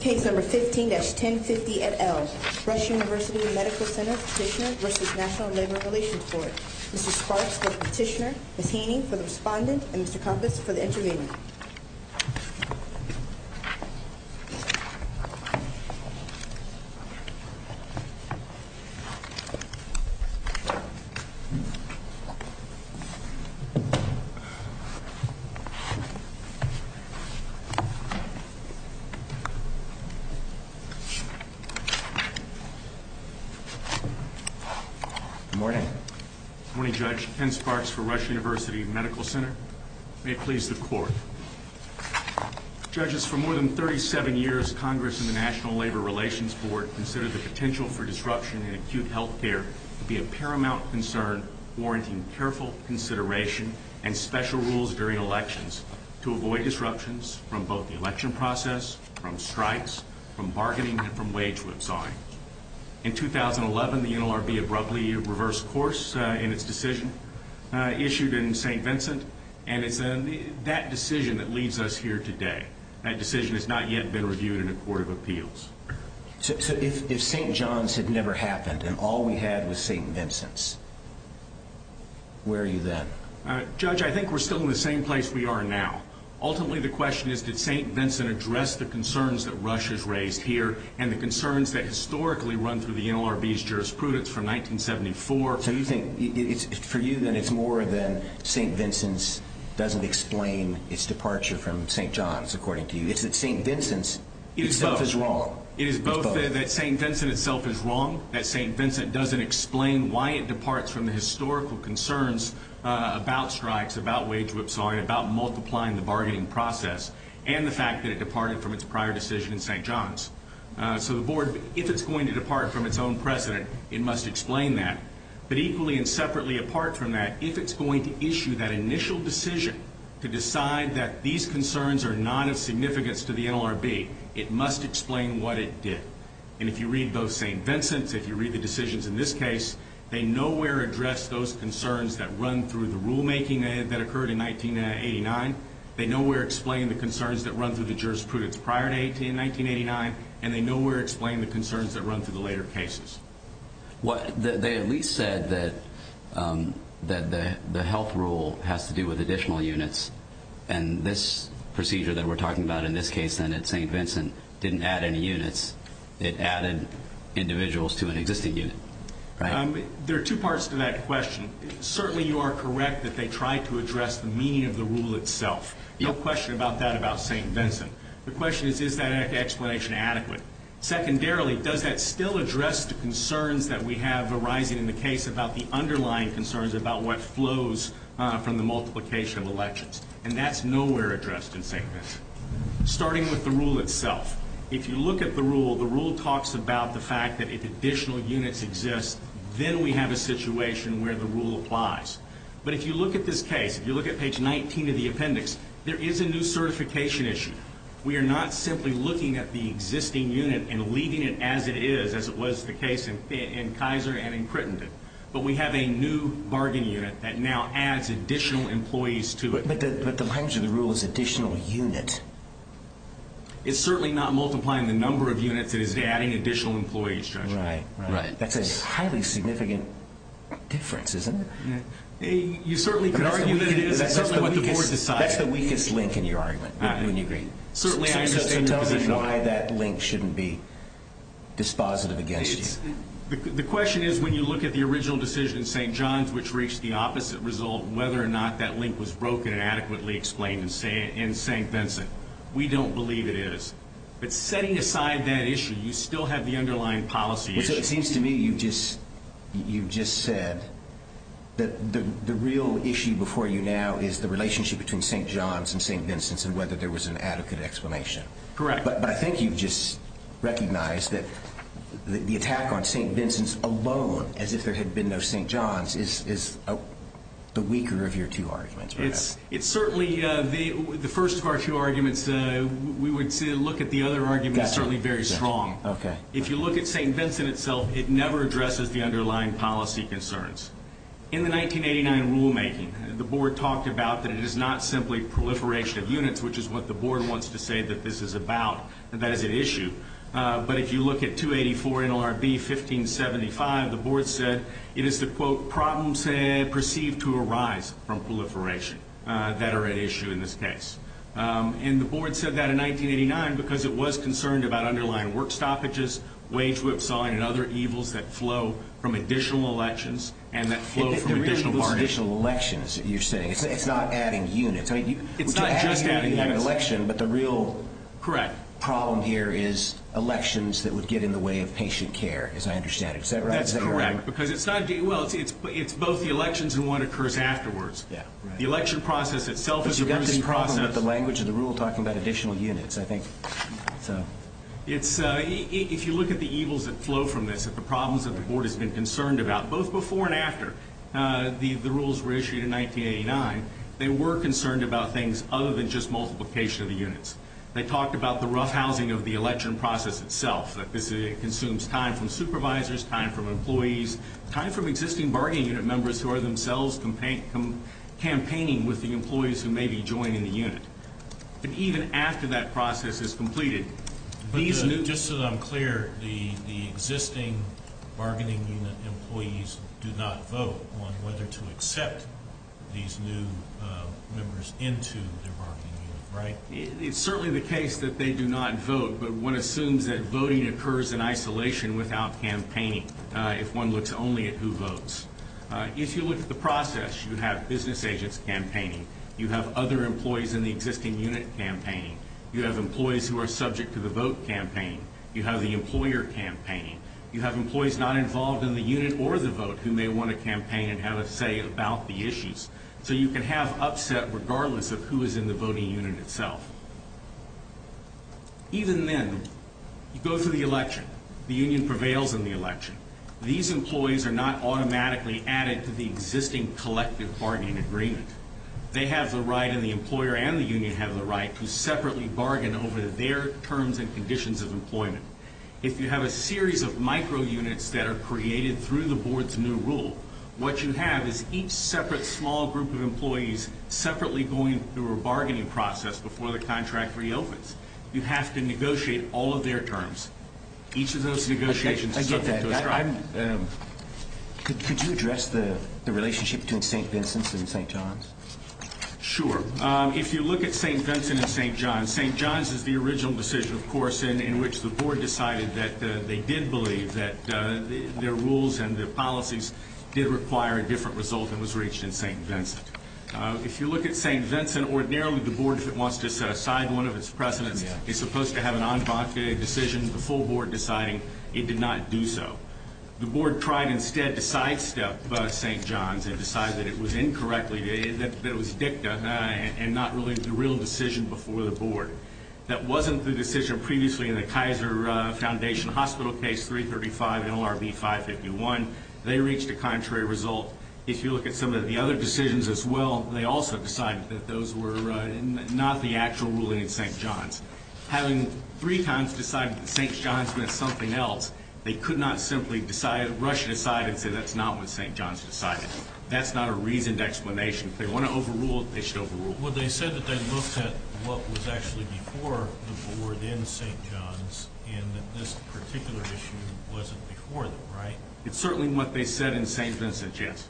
Case No. 15-1050 et al. Rush University Medical Center Petitioner v. National Labor Relations Board Mr. Sparks for the Petitioner, Ms. Heaney for the Respondent, and Mr. Kompas for the Intervener Good morning. Good morning, Judge. Ken Sparks for Rush University Medical Center. May it please the Court. Judges, for more than 37 years, Congress and the National Labor Relations Board considered the potential for disruption in acute health care to be a paramount concern, warranting careful consideration and special rules during elections to avoid disruptions from both the election process, from strikes, from bargaining, and from wage whipsawing. In 2011, the NLRB abruptly reversed course in its decision issued in St. Vincent, and it's that decision that leads us here today. That decision has not yet been reviewed in a Court of Appeals. So if St. John's had never happened and all we had was St. Vincent's, where are you then? Judge, I think we're still in the same place we are now. Ultimately, the question is, did St. Vincent address the concerns that Rush has raised here and the concerns that historically run through the NLRB's jurisprudence from 1974? So you think, for you then, it's more than St. Vincent's doesn't explain its departure from St. John's, according to you. It's that St. Vincent's itself is wrong. It is both that St. Vincent itself is wrong, that St. Vincent doesn't explain why it departs from the historical concerns about strikes, about wage whipsawing, about multiplying the bargaining process, and the fact that it departed from its prior decision in St. John's. So the Board, if it's going to depart from its own precedent, it must explain that. But equally and separately apart from that, if it's going to issue that initial decision to decide that these concerns are not of significance to the NLRB, it must explain what it did. And if you read both St. Vincent's, if you read the decisions in this case, they nowhere address those concerns that run through the rulemaking that occurred in 1989, they nowhere explain the concerns that run through the jurisprudence prior to 1989, and they nowhere explain the concerns that run through the later cases. They at least said that the health rule has to do with additional units, and this procedure that we're talking about in this case then at St. Vincent didn't add any units. It added individuals to an existing unit. There are two parts to that question. Certainly you are correct that they tried to address the meaning of the rule itself. No question about that about St. Vincent. The question is, is that explanation adequate? Secondarily, does that still address the concerns that we have arising in the case about the underlying concerns about what flows from the multiplication of elections? And that's nowhere addressed in St. Vincent. Starting with the rule itself, if you look at the rule, the rule talks about the fact that if additional units exist, then we have a situation where the rule applies. But if you look at this case, if you look at page 19 of the appendix, there is a new certification issue. We are not simply looking at the existing unit and leaving it as it is, as it was the case in Kaiser and in Crittenden, but we have a new bargain unit that now adds additional employees to it. But the language of the rule is additional unit. It's certainly not multiplying the number of units. It is adding additional employees to it. Right. That's a highly significant difference, isn't it? You certainly could argue that it is. That's certainly what the board decided. That's the weakest link in your argument, wouldn't you agree? Certainly. So tell us why that link shouldn't be dispositive against you. The question is, when you look at the original decision in St. John's, which reached the opposite result, whether or not that link was broken and adequately explained in St. Vincent, we don't believe it is. But setting aside that issue, you still have the underlying policy issue. It seems to me you've just said that the real issue before you now is the relationship between St. John's and St. Vincent's and whether there was an adequate explanation. Correct. But I think you've just recognized that the attack on St. Vincent's alone, as if there had been no St. John's, is the weaker of your two arguments. The first of our two arguments, we would look at the other arguments certainly very strong. If you look at St. Vincent itself, it never addresses the underlying policy concerns. In the 1989 rulemaking, the board talked about that it is not simply proliferation of units, which is what the board wants to say that this is about, that is at issue. But if you look at 284 NLRB 1575, the board said it is the, quote, problems perceived to arise from proliferation that are at issue in this case. And the board said that in 1989 because it was concerned about underlying work stoppages, wage whipsawing, and other evils that flow from additional elections and that flow from additional parties. It's not just adding units. It's not just adding units. But the real problem here is elections that would get in the way of patient care, as I understand it. Is that right? That's correct. Because it's not, well, it's both the elections and what occurs afterwards. Yeah. The election process itself is a very big process. But you've got this problem with the language of the rule talking about additional units, I think. If you look at the evils that flow from this, at the problems that the board has been concerned about, both before and after the rules were issued in 1989, they were concerned about things other than just multiplication of the units. They talked about the rough housing of the election process itself, that this consumes time from supervisors, time from employees, time from existing bargaining unit members who are themselves campaigning with the employees who may be joining the unit. But even after that process is completed, these new – But just so that I'm clear, the existing bargaining unit employees do not vote on whether to accept these new members into their bargaining unit, right? It's certainly the case that they do not vote, but one assumes that voting occurs in isolation without campaigning, if one looks only at who votes. If you look at the process, you have business agents campaigning. You have other employees in the existing unit campaigning. You have employees who are subject to the vote campaign. You have the employer campaigning. You have employees not involved in the unit or the vote who may want to campaign and have a say about the issues. So you can have upset regardless of who is in the voting unit itself. Even then, you go through the election. The union prevails in the election. These employees are not automatically added to the existing collective bargaining agreement. They have the right, and the employer and the union have the right, to separately bargain over their terms and conditions of employment. If you have a series of micro-units that are created through the board's new rule, what you have is each separate small group of employees separately going through a bargaining process before the contract reopens. You have to negotiate all of their terms. Each of those negotiations is separate. Could you address the relationship between St. Vincent's and St. John's? Sure. If you look at St. Vincent and St. John's, St. John's is the original decision, of course, in which the board decided that they did believe that their rules and their policies did require a different result and was reached in St. Vincent. If you look at St. Vincent, ordinarily the board, if it wants to set aside one of its precedents, is supposed to have an on-bond decision before the board deciding it did not do so. The board tried instead to sidestep St. John's and decided that it was incorrectly, that it was dicta and not really the real decision before the board. That wasn't the decision previously in the Kaiser Foundation Hospital Case 335 NLRB 551. They reached a contrary result. If you look at some of the other decisions as well, they also decided that those were not the actual ruling in St. John's. Having three times decided that St. John's meant something else, they could not simply rush it aside and say that's not what St. John's decided. That's not a reasoned explanation. If they want to overrule it, they should overrule it. Well, they said that they looked at what was actually before the board in St. John's and that this particular issue wasn't before them, right? It's certainly what they said in St. Vincent's, yes.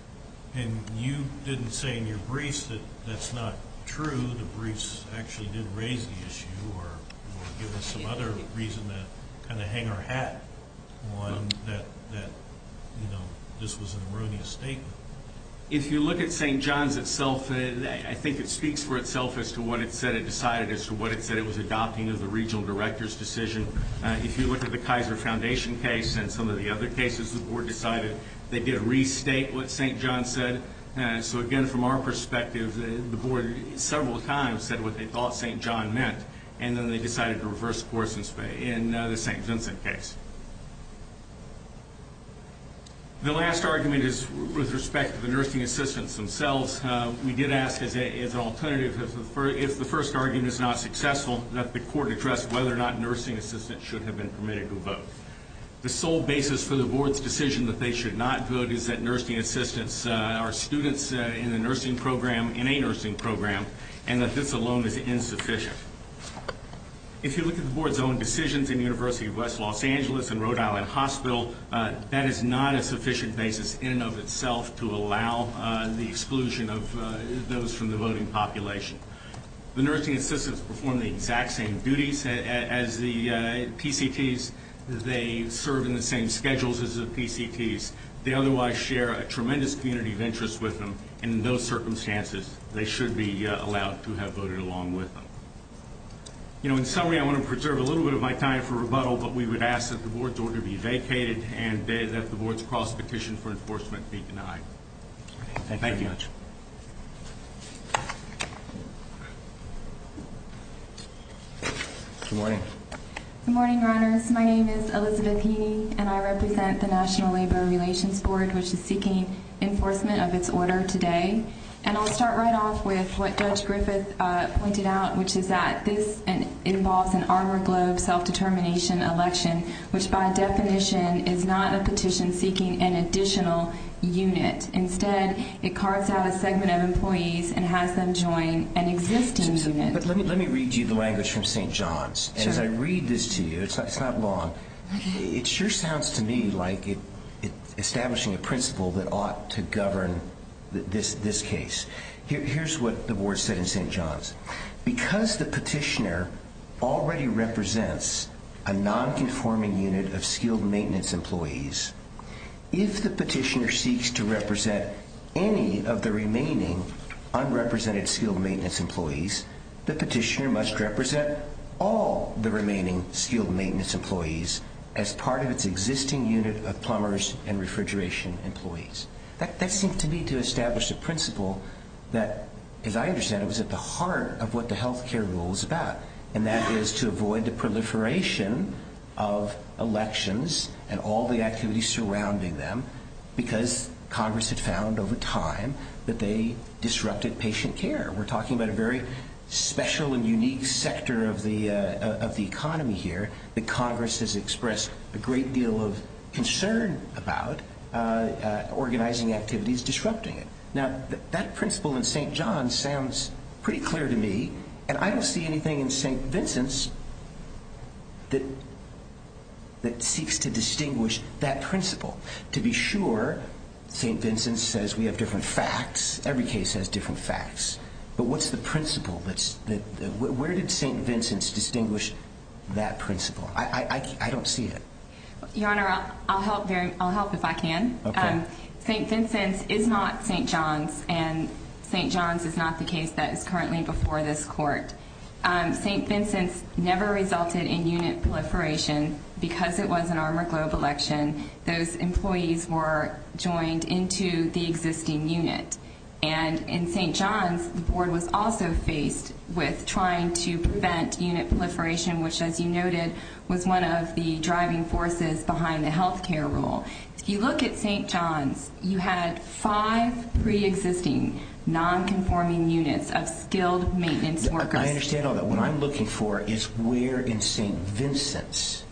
And you didn't say in your briefs that that's not true. The briefs actually did raise the issue or give us some other reason to kind of hang our hat on that, you know, this was an erroneous statement. If you look at St. John's itself, I think it speaks for itself as to what it said it decided, as to what it said it was adopting as a regional director's decision. If you look at the Kaiser Foundation case and some of the other cases, the board decided they did restate what St. John's said. So, again, from our perspective, the board several times said what they thought St. John's meant, and then they decided to reverse course in the St. Vincent case. The last argument is with respect to the nursing assistants themselves. We did ask as an alternative, if the first argument is not successful, that the court address whether or not nursing assistants should have been permitted to vote. The sole basis for the board's decision that they should not vote is that nursing assistants are students in the nursing program, in a nursing program, and that this alone is insufficient. If you look at the board's own decisions in University of West Los Angeles and Rhode Island Hospital, that is not a sufficient basis in and of itself to allow the exclusion of those from the voting population. The nursing assistants perform the exact same duties as the PCTs. They serve in the same schedules as the PCTs. They otherwise share a tremendous community of interest with them, and in those circumstances, they should be allowed to have voted along with them. In summary, I want to preserve a little bit of my time for rebuttal, but we would ask that the board's order be vacated and that the board's cross-petition for enforcement be denied. Thank you very much. Good morning. Good morning, Reiners. My name is Elizabeth Heaney, and I represent the National Labor Relations Board, which is seeking enforcement of its order today. And I'll start right off with what Judge Griffith pointed out, which is that this involves an Arbor Globe self-determination election, which by definition is not a petition seeking an additional unit. Instead, it carves out a segment of employees and has them join an existing unit. But let me read you the language from St. John's. As I read this to you, it's not long. It sure sounds to me like it's establishing a principle that ought to govern this case. Here's what the board said in St. John's. Because the petitioner already represents a nonconforming unit of skilled maintenance employees, if the petitioner seeks to represent any of the remaining unrepresented skilled maintenance employees, the petitioner must represent all the remaining skilled maintenance employees as part of its existing unit of plumbers and refrigeration employees. That seems to me to establish a principle that, as I understand it, was at the heart of what the health care rule is about. And that is to avoid the proliferation of elections and all the activities surrounding them because Congress had found over time that they disrupted patient care. We're talking about a very special and unique sector of the economy here that Congress has expressed a great deal of concern about organizing activities disrupting it. Now, that principle in St. John's sounds pretty clear to me, and I don't see anything in St. Vincent's that seeks to distinguish that principle. To be sure, St. Vincent's says we have different facts. Every case has different facts. But what's the principle? Where did St. Vincent's distinguish that principle? I don't see it. Your Honor, I'll help if I can. St. Vincent's is not St. John's, and St. John's is not the case that is currently before this court. St. Vincent's never resulted in unit proliferation. Because it was an Armor Globe election, those employees were joined into the existing unit. And in St. John's, the board was also faced with trying to prevent unit proliferation, which, as you noted, was one of the driving forces behind the health care rule. If you look at St. John's, you had five pre-existing, non-conforming units of skilled maintenance workers. I understand all that. What I'm looking for is where in St. Vincent's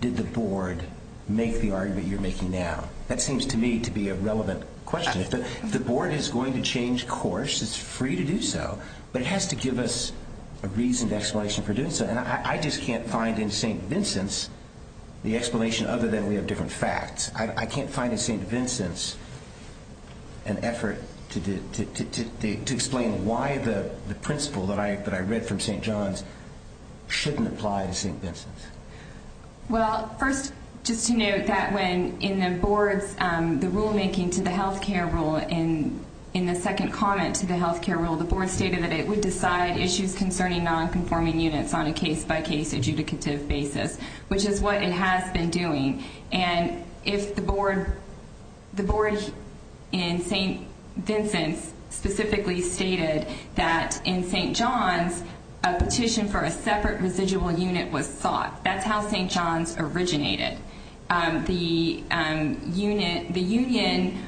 did the board make the argument you're making now. That seems to me to be a relevant question. If the board is going to change course, it's free to do so, but it has to give us a reasoned explanation for doing so. I just can't find in St. Vincent's the explanation other than we have different facts. I can't find in St. Vincent's an effort to explain why the principle that I read from St. John's shouldn't apply to St. Vincent's. Well, first, just to note that when in the board's rulemaking to the health care rule, in the second comment to the health care rule, the board stated that it would decide issues concerning non-conforming units on a case-by-case adjudicative basis, which is what it has been doing. And if the board in St. Vincent's specifically stated that in St. John's a petition for a separate residual unit was sought, that's how St. John's originated. The union,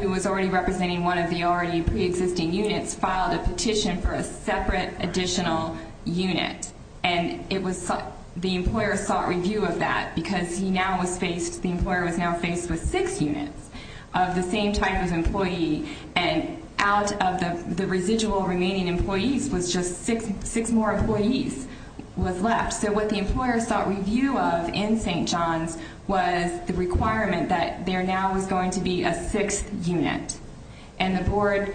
who was already representing one of the already preexisting units, filed a petition for a separate additional unit, and the employer sought review of that because the employer was now faced with six units of the same type of employee, and out of the residual remaining employees was just six more employees was left. So what the employer sought review of in St. John's was the requirement that there now was going to be a sixth unit. And the board,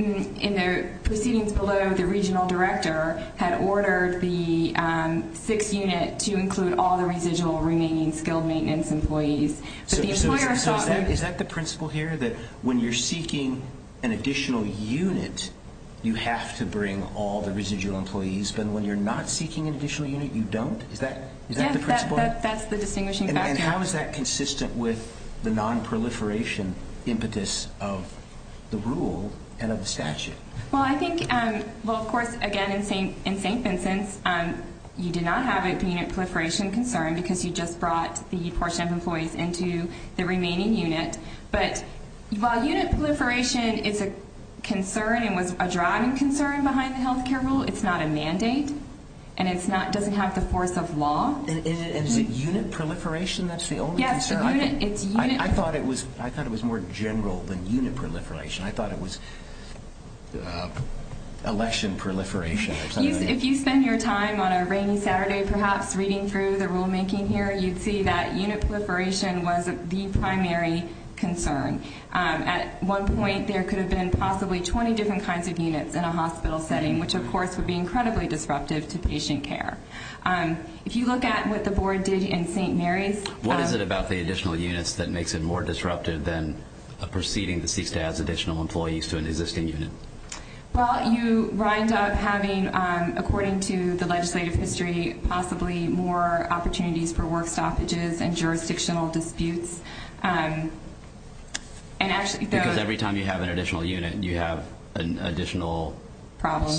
in the proceedings below, the regional director had ordered the sixth unit to include all the residual remaining skilled maintenance employees. So is that the principle here, that when you're seeking an additional unit, you have to bring all the residual employees, but when you're not seeking an additional unit, you don't? Is that the principle? Yes, that's the distinguishing factor. And how is that consistent with the nonproliferation impetus of the rule and of the statute? Well, I think, well, of course, again, in St. Vincent's you did not have a unit proliferation concern because you just brought the portion of employees into the remaining unit. But while unit proliferation is a concern and was a driving concern behind the health care rule, it's not a mandate and it doesn't have the force of law. And is it unit proliferation that's the only concern? Yes, it's unit. I thought it was more general than unit proliferation. I thought it was election proliferation or something like that. If you spend your time on a rainy Saturday perhaps reading through the rulemaking here, you'd see that unit proliferation was the primary concern. At one point there could have been possibly 20 different kinds of units in a hospital setting, which of course would be incredibly disruptive to patient care. If you look at what the board did in St. Mary's? What is it about the additional units that makes it more disruptive than a proceeding that seeks to add additional employees to an existing unit? Well, you wind up having, according to the legislative history, possibly more opportunities for work stoppages and jurisdictional disputes. Because every time you have an additional unit, you have an additional? Problem.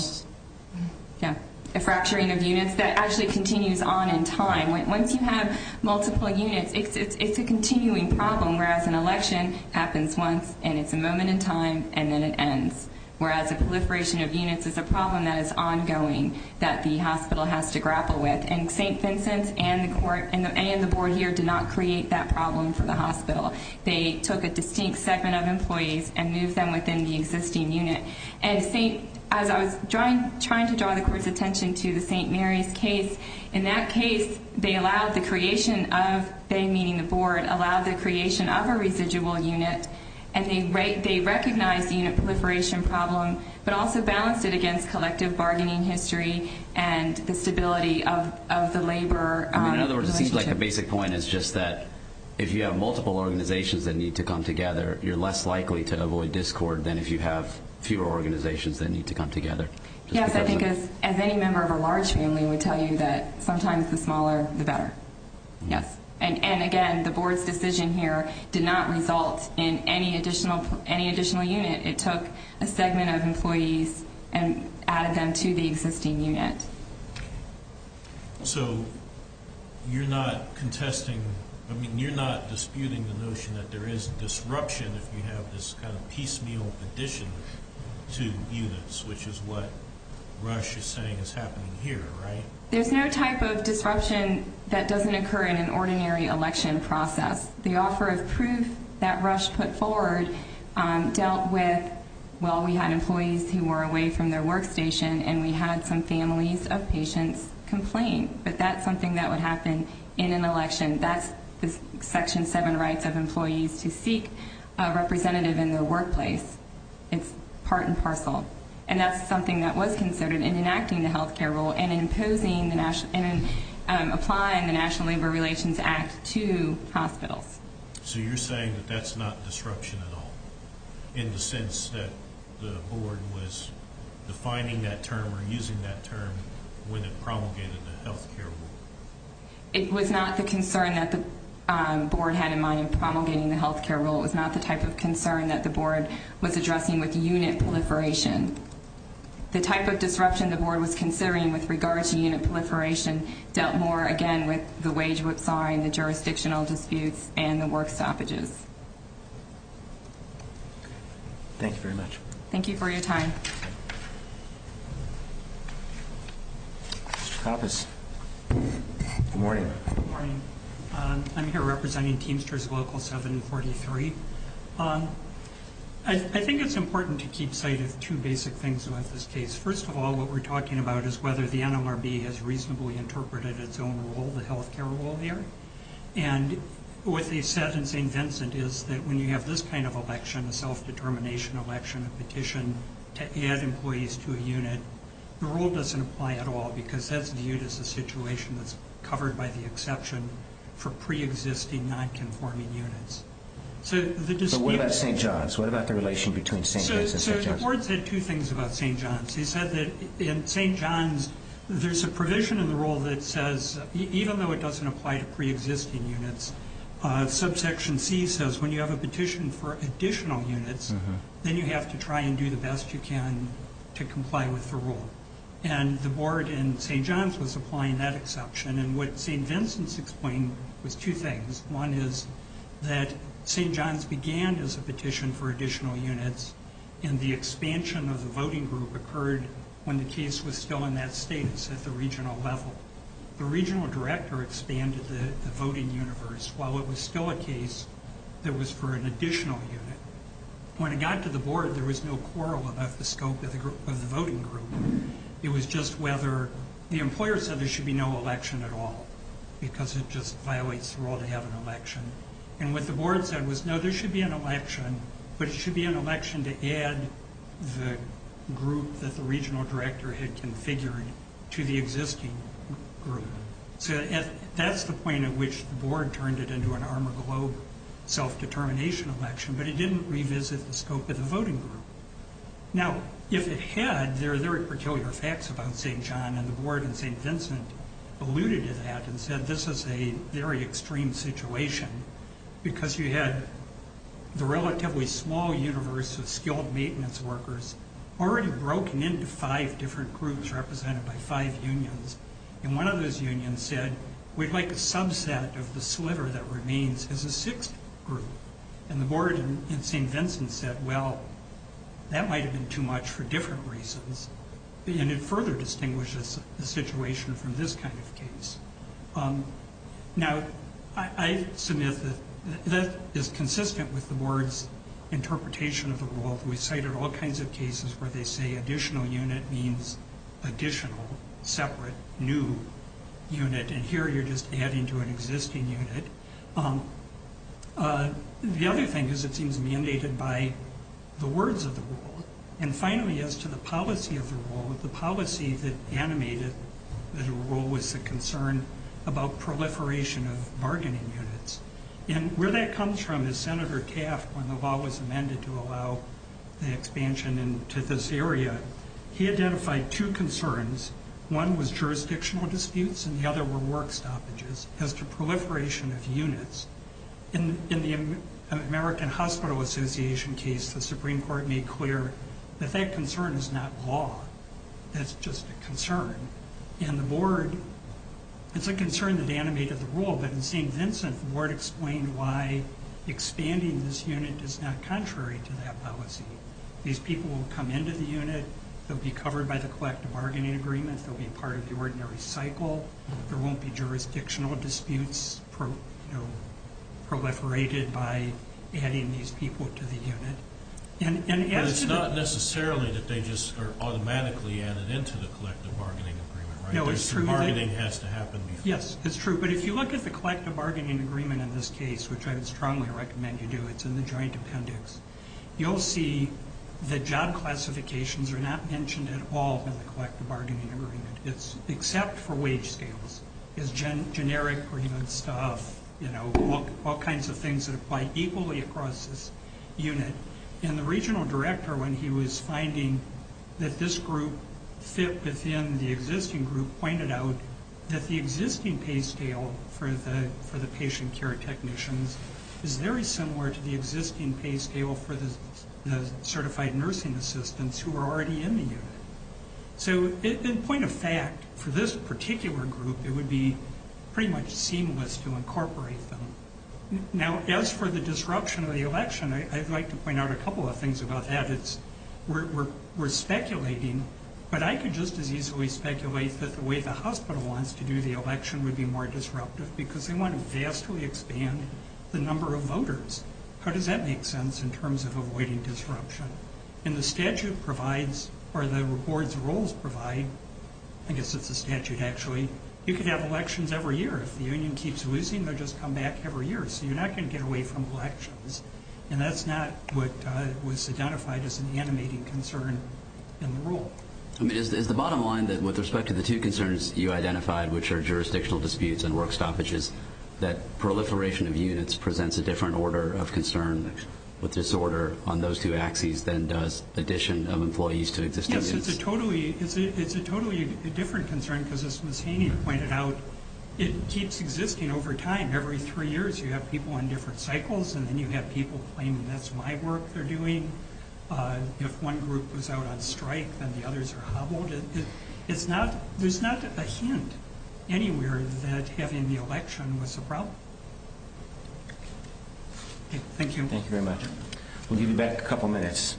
A fracturing of units that actually continues on in time. Once you have multiple units, it's a continuing problem, whereas an election happens once and it's a moment in time and then it ends. Whereas a proliferation of units is a problem that is ongoing that the hospital has to grapple with. St. Vincent and the board here did not create that problem for the hospital. They took a distinct segment of employees and moved them within the existing unit. As I was trying to draw the court's attention to the St. Mary's case, in that case they allowed the creation of, they meaning the board, allowed the creation of a residual unit, and they recognized the unit proliferation problem but also balanced it against collective bargaining history and the stability of the labor relationship. In other words, it seems like a basic point is just that if you have multiple organizations that need to come together, you're less likely to avoid discord than if you have fewer organizations that need to come together. Yes, I think as any member of a large family would tell you that sometimes the smaller the better. And again, the board's decision here did not result in any additional unit. It took a segment of employees and added them to the existing unit. So you're not contesting, I mean you're not disputing the notion that there is disruption if you have this kind of piecemeal addition to units, which is what Rush is saying is happening here, right? There's no type of disruption that doesn't occur in an ordinary election process. The offer of proof that Rush put forward dealt with, well, we had employees who were away from their workstation and we had some families of patients complain, but that's something that would happen in an election. That's Section 7 rights of employees to seek a representative in their workplace. It's part and parcel. And that's something that was considered in enacting the health care rule and in applying the National Labor Relations Act to hospitals. So you're saying that that's not disruption at all, in the sense that the board was defining that term or using that term when it promulgated the health care rule? It was not the concern that the board had in mind in promulgating the health care rule. It was not the type of concern that the board was addressing with unit proliferation. The type of disruption the board was considering with regard to unit proliferation dealt more, again, with the wage whipsawing, the jurisdictional disputes, and the work stoppages. Thank you very much. Thank you for your time. Mr. Kappas. Good morning. Good morning. I'm here representing Teamsters Local 743. I think it's important to keep sight of two basic things about this case. First of all, what we're talking about is whether the NLRB has reasonably interpreted its own rule, the health care rule, here. And what they said in St. Vincent is that when you have this kind of election, a self-determination election, a petition to add employees to a unit, the rule doesn't apply at all because that's viewed as a situation that's covered by the exception for preexisting, non-conforming units. But what about St. John's? What about the relation between St. Vincent and St. John's? So the board said two things about St. John's. They said that in St. John's there's a provision in the rule that says, even though it doesn't apply to preexisting units, subsection C says when you have a petition for additional units, then you have to try and do the best you can to comply with the rule. And the board in St. John's was applying that exception. And what St. Vincent's explained was two things. One is that St. John's began as a petition for additional units, and the expansion of the voting group occurred when the case was still in that status at the regional level. The regional director expanded the voting universe, while it was still a case that was for an additional unit. When it got to the board, there was no quarrel about the scope of the voting group. It was just whether the employer said there should be no election at all, because it just violates the rule to have an election. And what the board said was, no, there should be an election, but it should be an election to add the group that the regional director had configured to the existing group. So that's the point at which the board turned it into an Armour Globe self-determination election, but it didn't revisit the scope of the voting group. Now, if it had, there are very peculiar facts about St. John, and the board in St. Vincent alluded to that and said this is a very extreme situation, because you had the relatively small universe of skilled maintenance workers already broken into five different groups represented by five unions. And one of those unions said, we'd like a subset of the sliver that remains as a sixth group. And the board in St. Vincent said, well, that might have been too much for different reasons. And it further distinguishes the situation from this kind of case. Now, I submit that that is consistent with the board's interpretation of the rule. We cited all kinds of cases where they say additional unit means additional, separate, new unit, and here you're just adding to an existing unit. The other thing is it seems mandated by the words of the rule. And finally, as to the policy of the rule, the policy that animated the rule was the concern about proliferation of bargaining units. And where that comes from is Senator Taft, when the law was amended to allow the expansion into this area, he identified two concerns. One was jurisdictional disputes, and the other were work stoppages. As to proliferation of units, in the American Hospital Association case, the Supreme Court made clear that that concern is not law. That's just a concern. And the board, it's a concern that animated the rule, but in St. Vincent, the board explained why expanding this unit is not contrary to that policy. These people will come into the unit. They'll be covered by the collective bargaining agreement. They'll be part of the ordinary cycle. There won't be jurisdictional disputes proliferated by adding these people to the unit. But it's not necessarily that they just are automatically added into the collective bargaining agreement, right? There's some bargaining that has to happen before. Yes, it's true. But if you look at the collective bargaining agreement in this case, which I would strongly recommend you do, it's in the joint appendix, you'll see that job classifications are not mentioned at all in the collective bargaining agreement, except for wage scales. Generic stuff, you know, all kinds of things that apply equally across this unit. And the regional director, when he was finding that this group fit within the existing group, pointed out that the existing pay scale for the patient care technicians is very similar to the existing pay scale for the certified nursing assistants who are already in the unit. So in point of fact, for this particular group, it would be pretty much seamless to incorporate them. Now, as for the disruption of the election, I'd like to point out a couple of things about that. We're speculating, but I could just as easily speculate that the way the hospital wants to do the election would be more disruptive because they want to vastly expand the number of voters. How does that make sense in terms of avoiding disruption? And the statute provides, or the board's rules provide, I guess it's a statute actually, you can have elections every year. If the union keeps losing, they'll just come back every year. So you're not going to get away from elections. And that's not what was identified as an animating concern in the rule. I mean, is the bottom line that with respect to the two concerns you identified, which are jurisdictional disputes and work stoppages, that proliferation of units presents a different order of concern with disorder on those two axes than does addition of employees to existing units? Yes, it's a totally different concern because, as Ms. Haney pointed out, it keeps existing over time. Every three years you have people on different cycles, and then you have people claiming that's my work they're doing. If one group was out on strike, then the others are hobbled. There's not a hint anywhere that having the election was a problem. Thank you. Thank you very much. We'll give you back a couple minutes.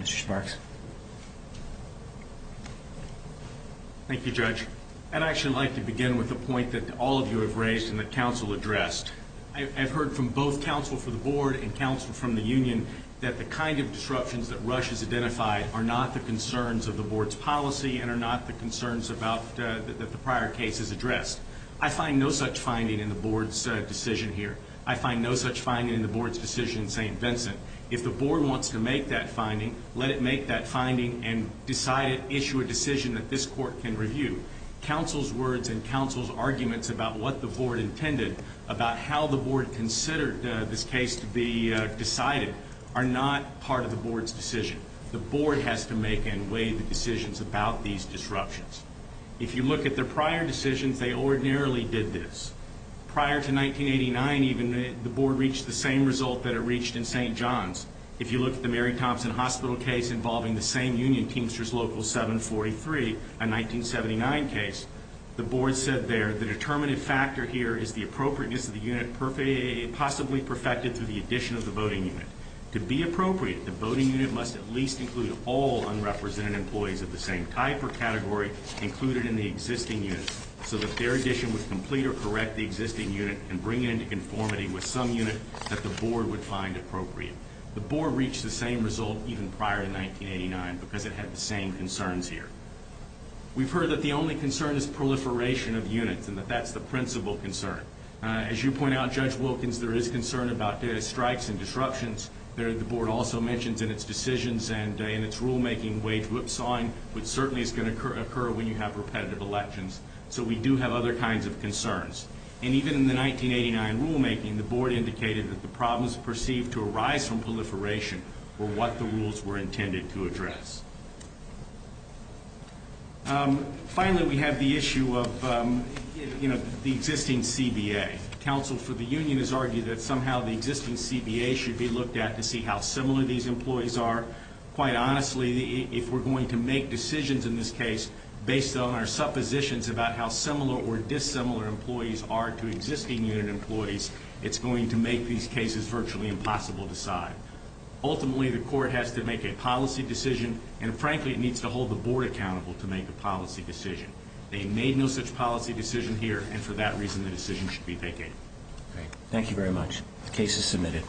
Mr. Schmarks. Thank you, Judge. And I'd actually like to begin with a point that all of you have raised and that counsel addressed. I've heard from both counsel for the board and counsel from the union that the kind of disruptions that Rush has identified are not the concerns of the board's policy and are not the concerns that the prior case has addressed. I find no such finding in the board's decision here. I find no such finding in the board's decision in St. Vincent. If the board wants to make that finding, let it make that finding and issue a decision that this court can review. Counsel's words and counsel's arguments about what the board intended, about how the board considered this case to be decided, are not part of the board's decision. The board has to make and weigh the decisions about these disruptions. If you look at the prior decisions, they ordinarily did this. Prior to 1989, even, the board reached the same result that it reached in St. John's. If you look at the Mary Thompson Hospital case involving the same union, Teamsters Local 743, a 1979 case, the board said there the determinative factor here is the appropriateness of the unit possibly perfected through the addition of the voting unit. To be appropriate, the voting unit must at least include all unrepresented employees of the same type or category included in the existing unit so that their addition would complete or correct the existing unit and bring it into conformity with some unit that the board would find appropriate. The board reached the same result even prior to 1989 because it had the same concerns here. We've heard that the only concern is proliferation of units and that that's the principal concern. As you point out, Judge Wilkins, there is concern about data strikes and disruptions. The board also mentions in its decisions and in its rulemaking wage whipsawing, which certainly is going to occur when you have repetitive elections. So we do have other kinds of concerns. And even in the 1989 rulemaking, the board indicated that the problems perceived to arise from proliferation were what the rules were intended to address. Finally, we have the issue of, you know, the existing CBA. Counsel for the union has argued that somehow the existing CBA should be looked at to see how similar these employees are. Quite honestly, if we're going to make decisions in this case based on our suppositions about how similar or dissimilar employees are to existing unit employees, it's going to make these cases virtually impossible to decide. Ultimately, the court has to make a policy decision. And frankly, it needs to hold the board accountable to make a policy decision. They made no such policy decision here. And for that reason, the decision should be vacated. Thank you very much. The case is submitted.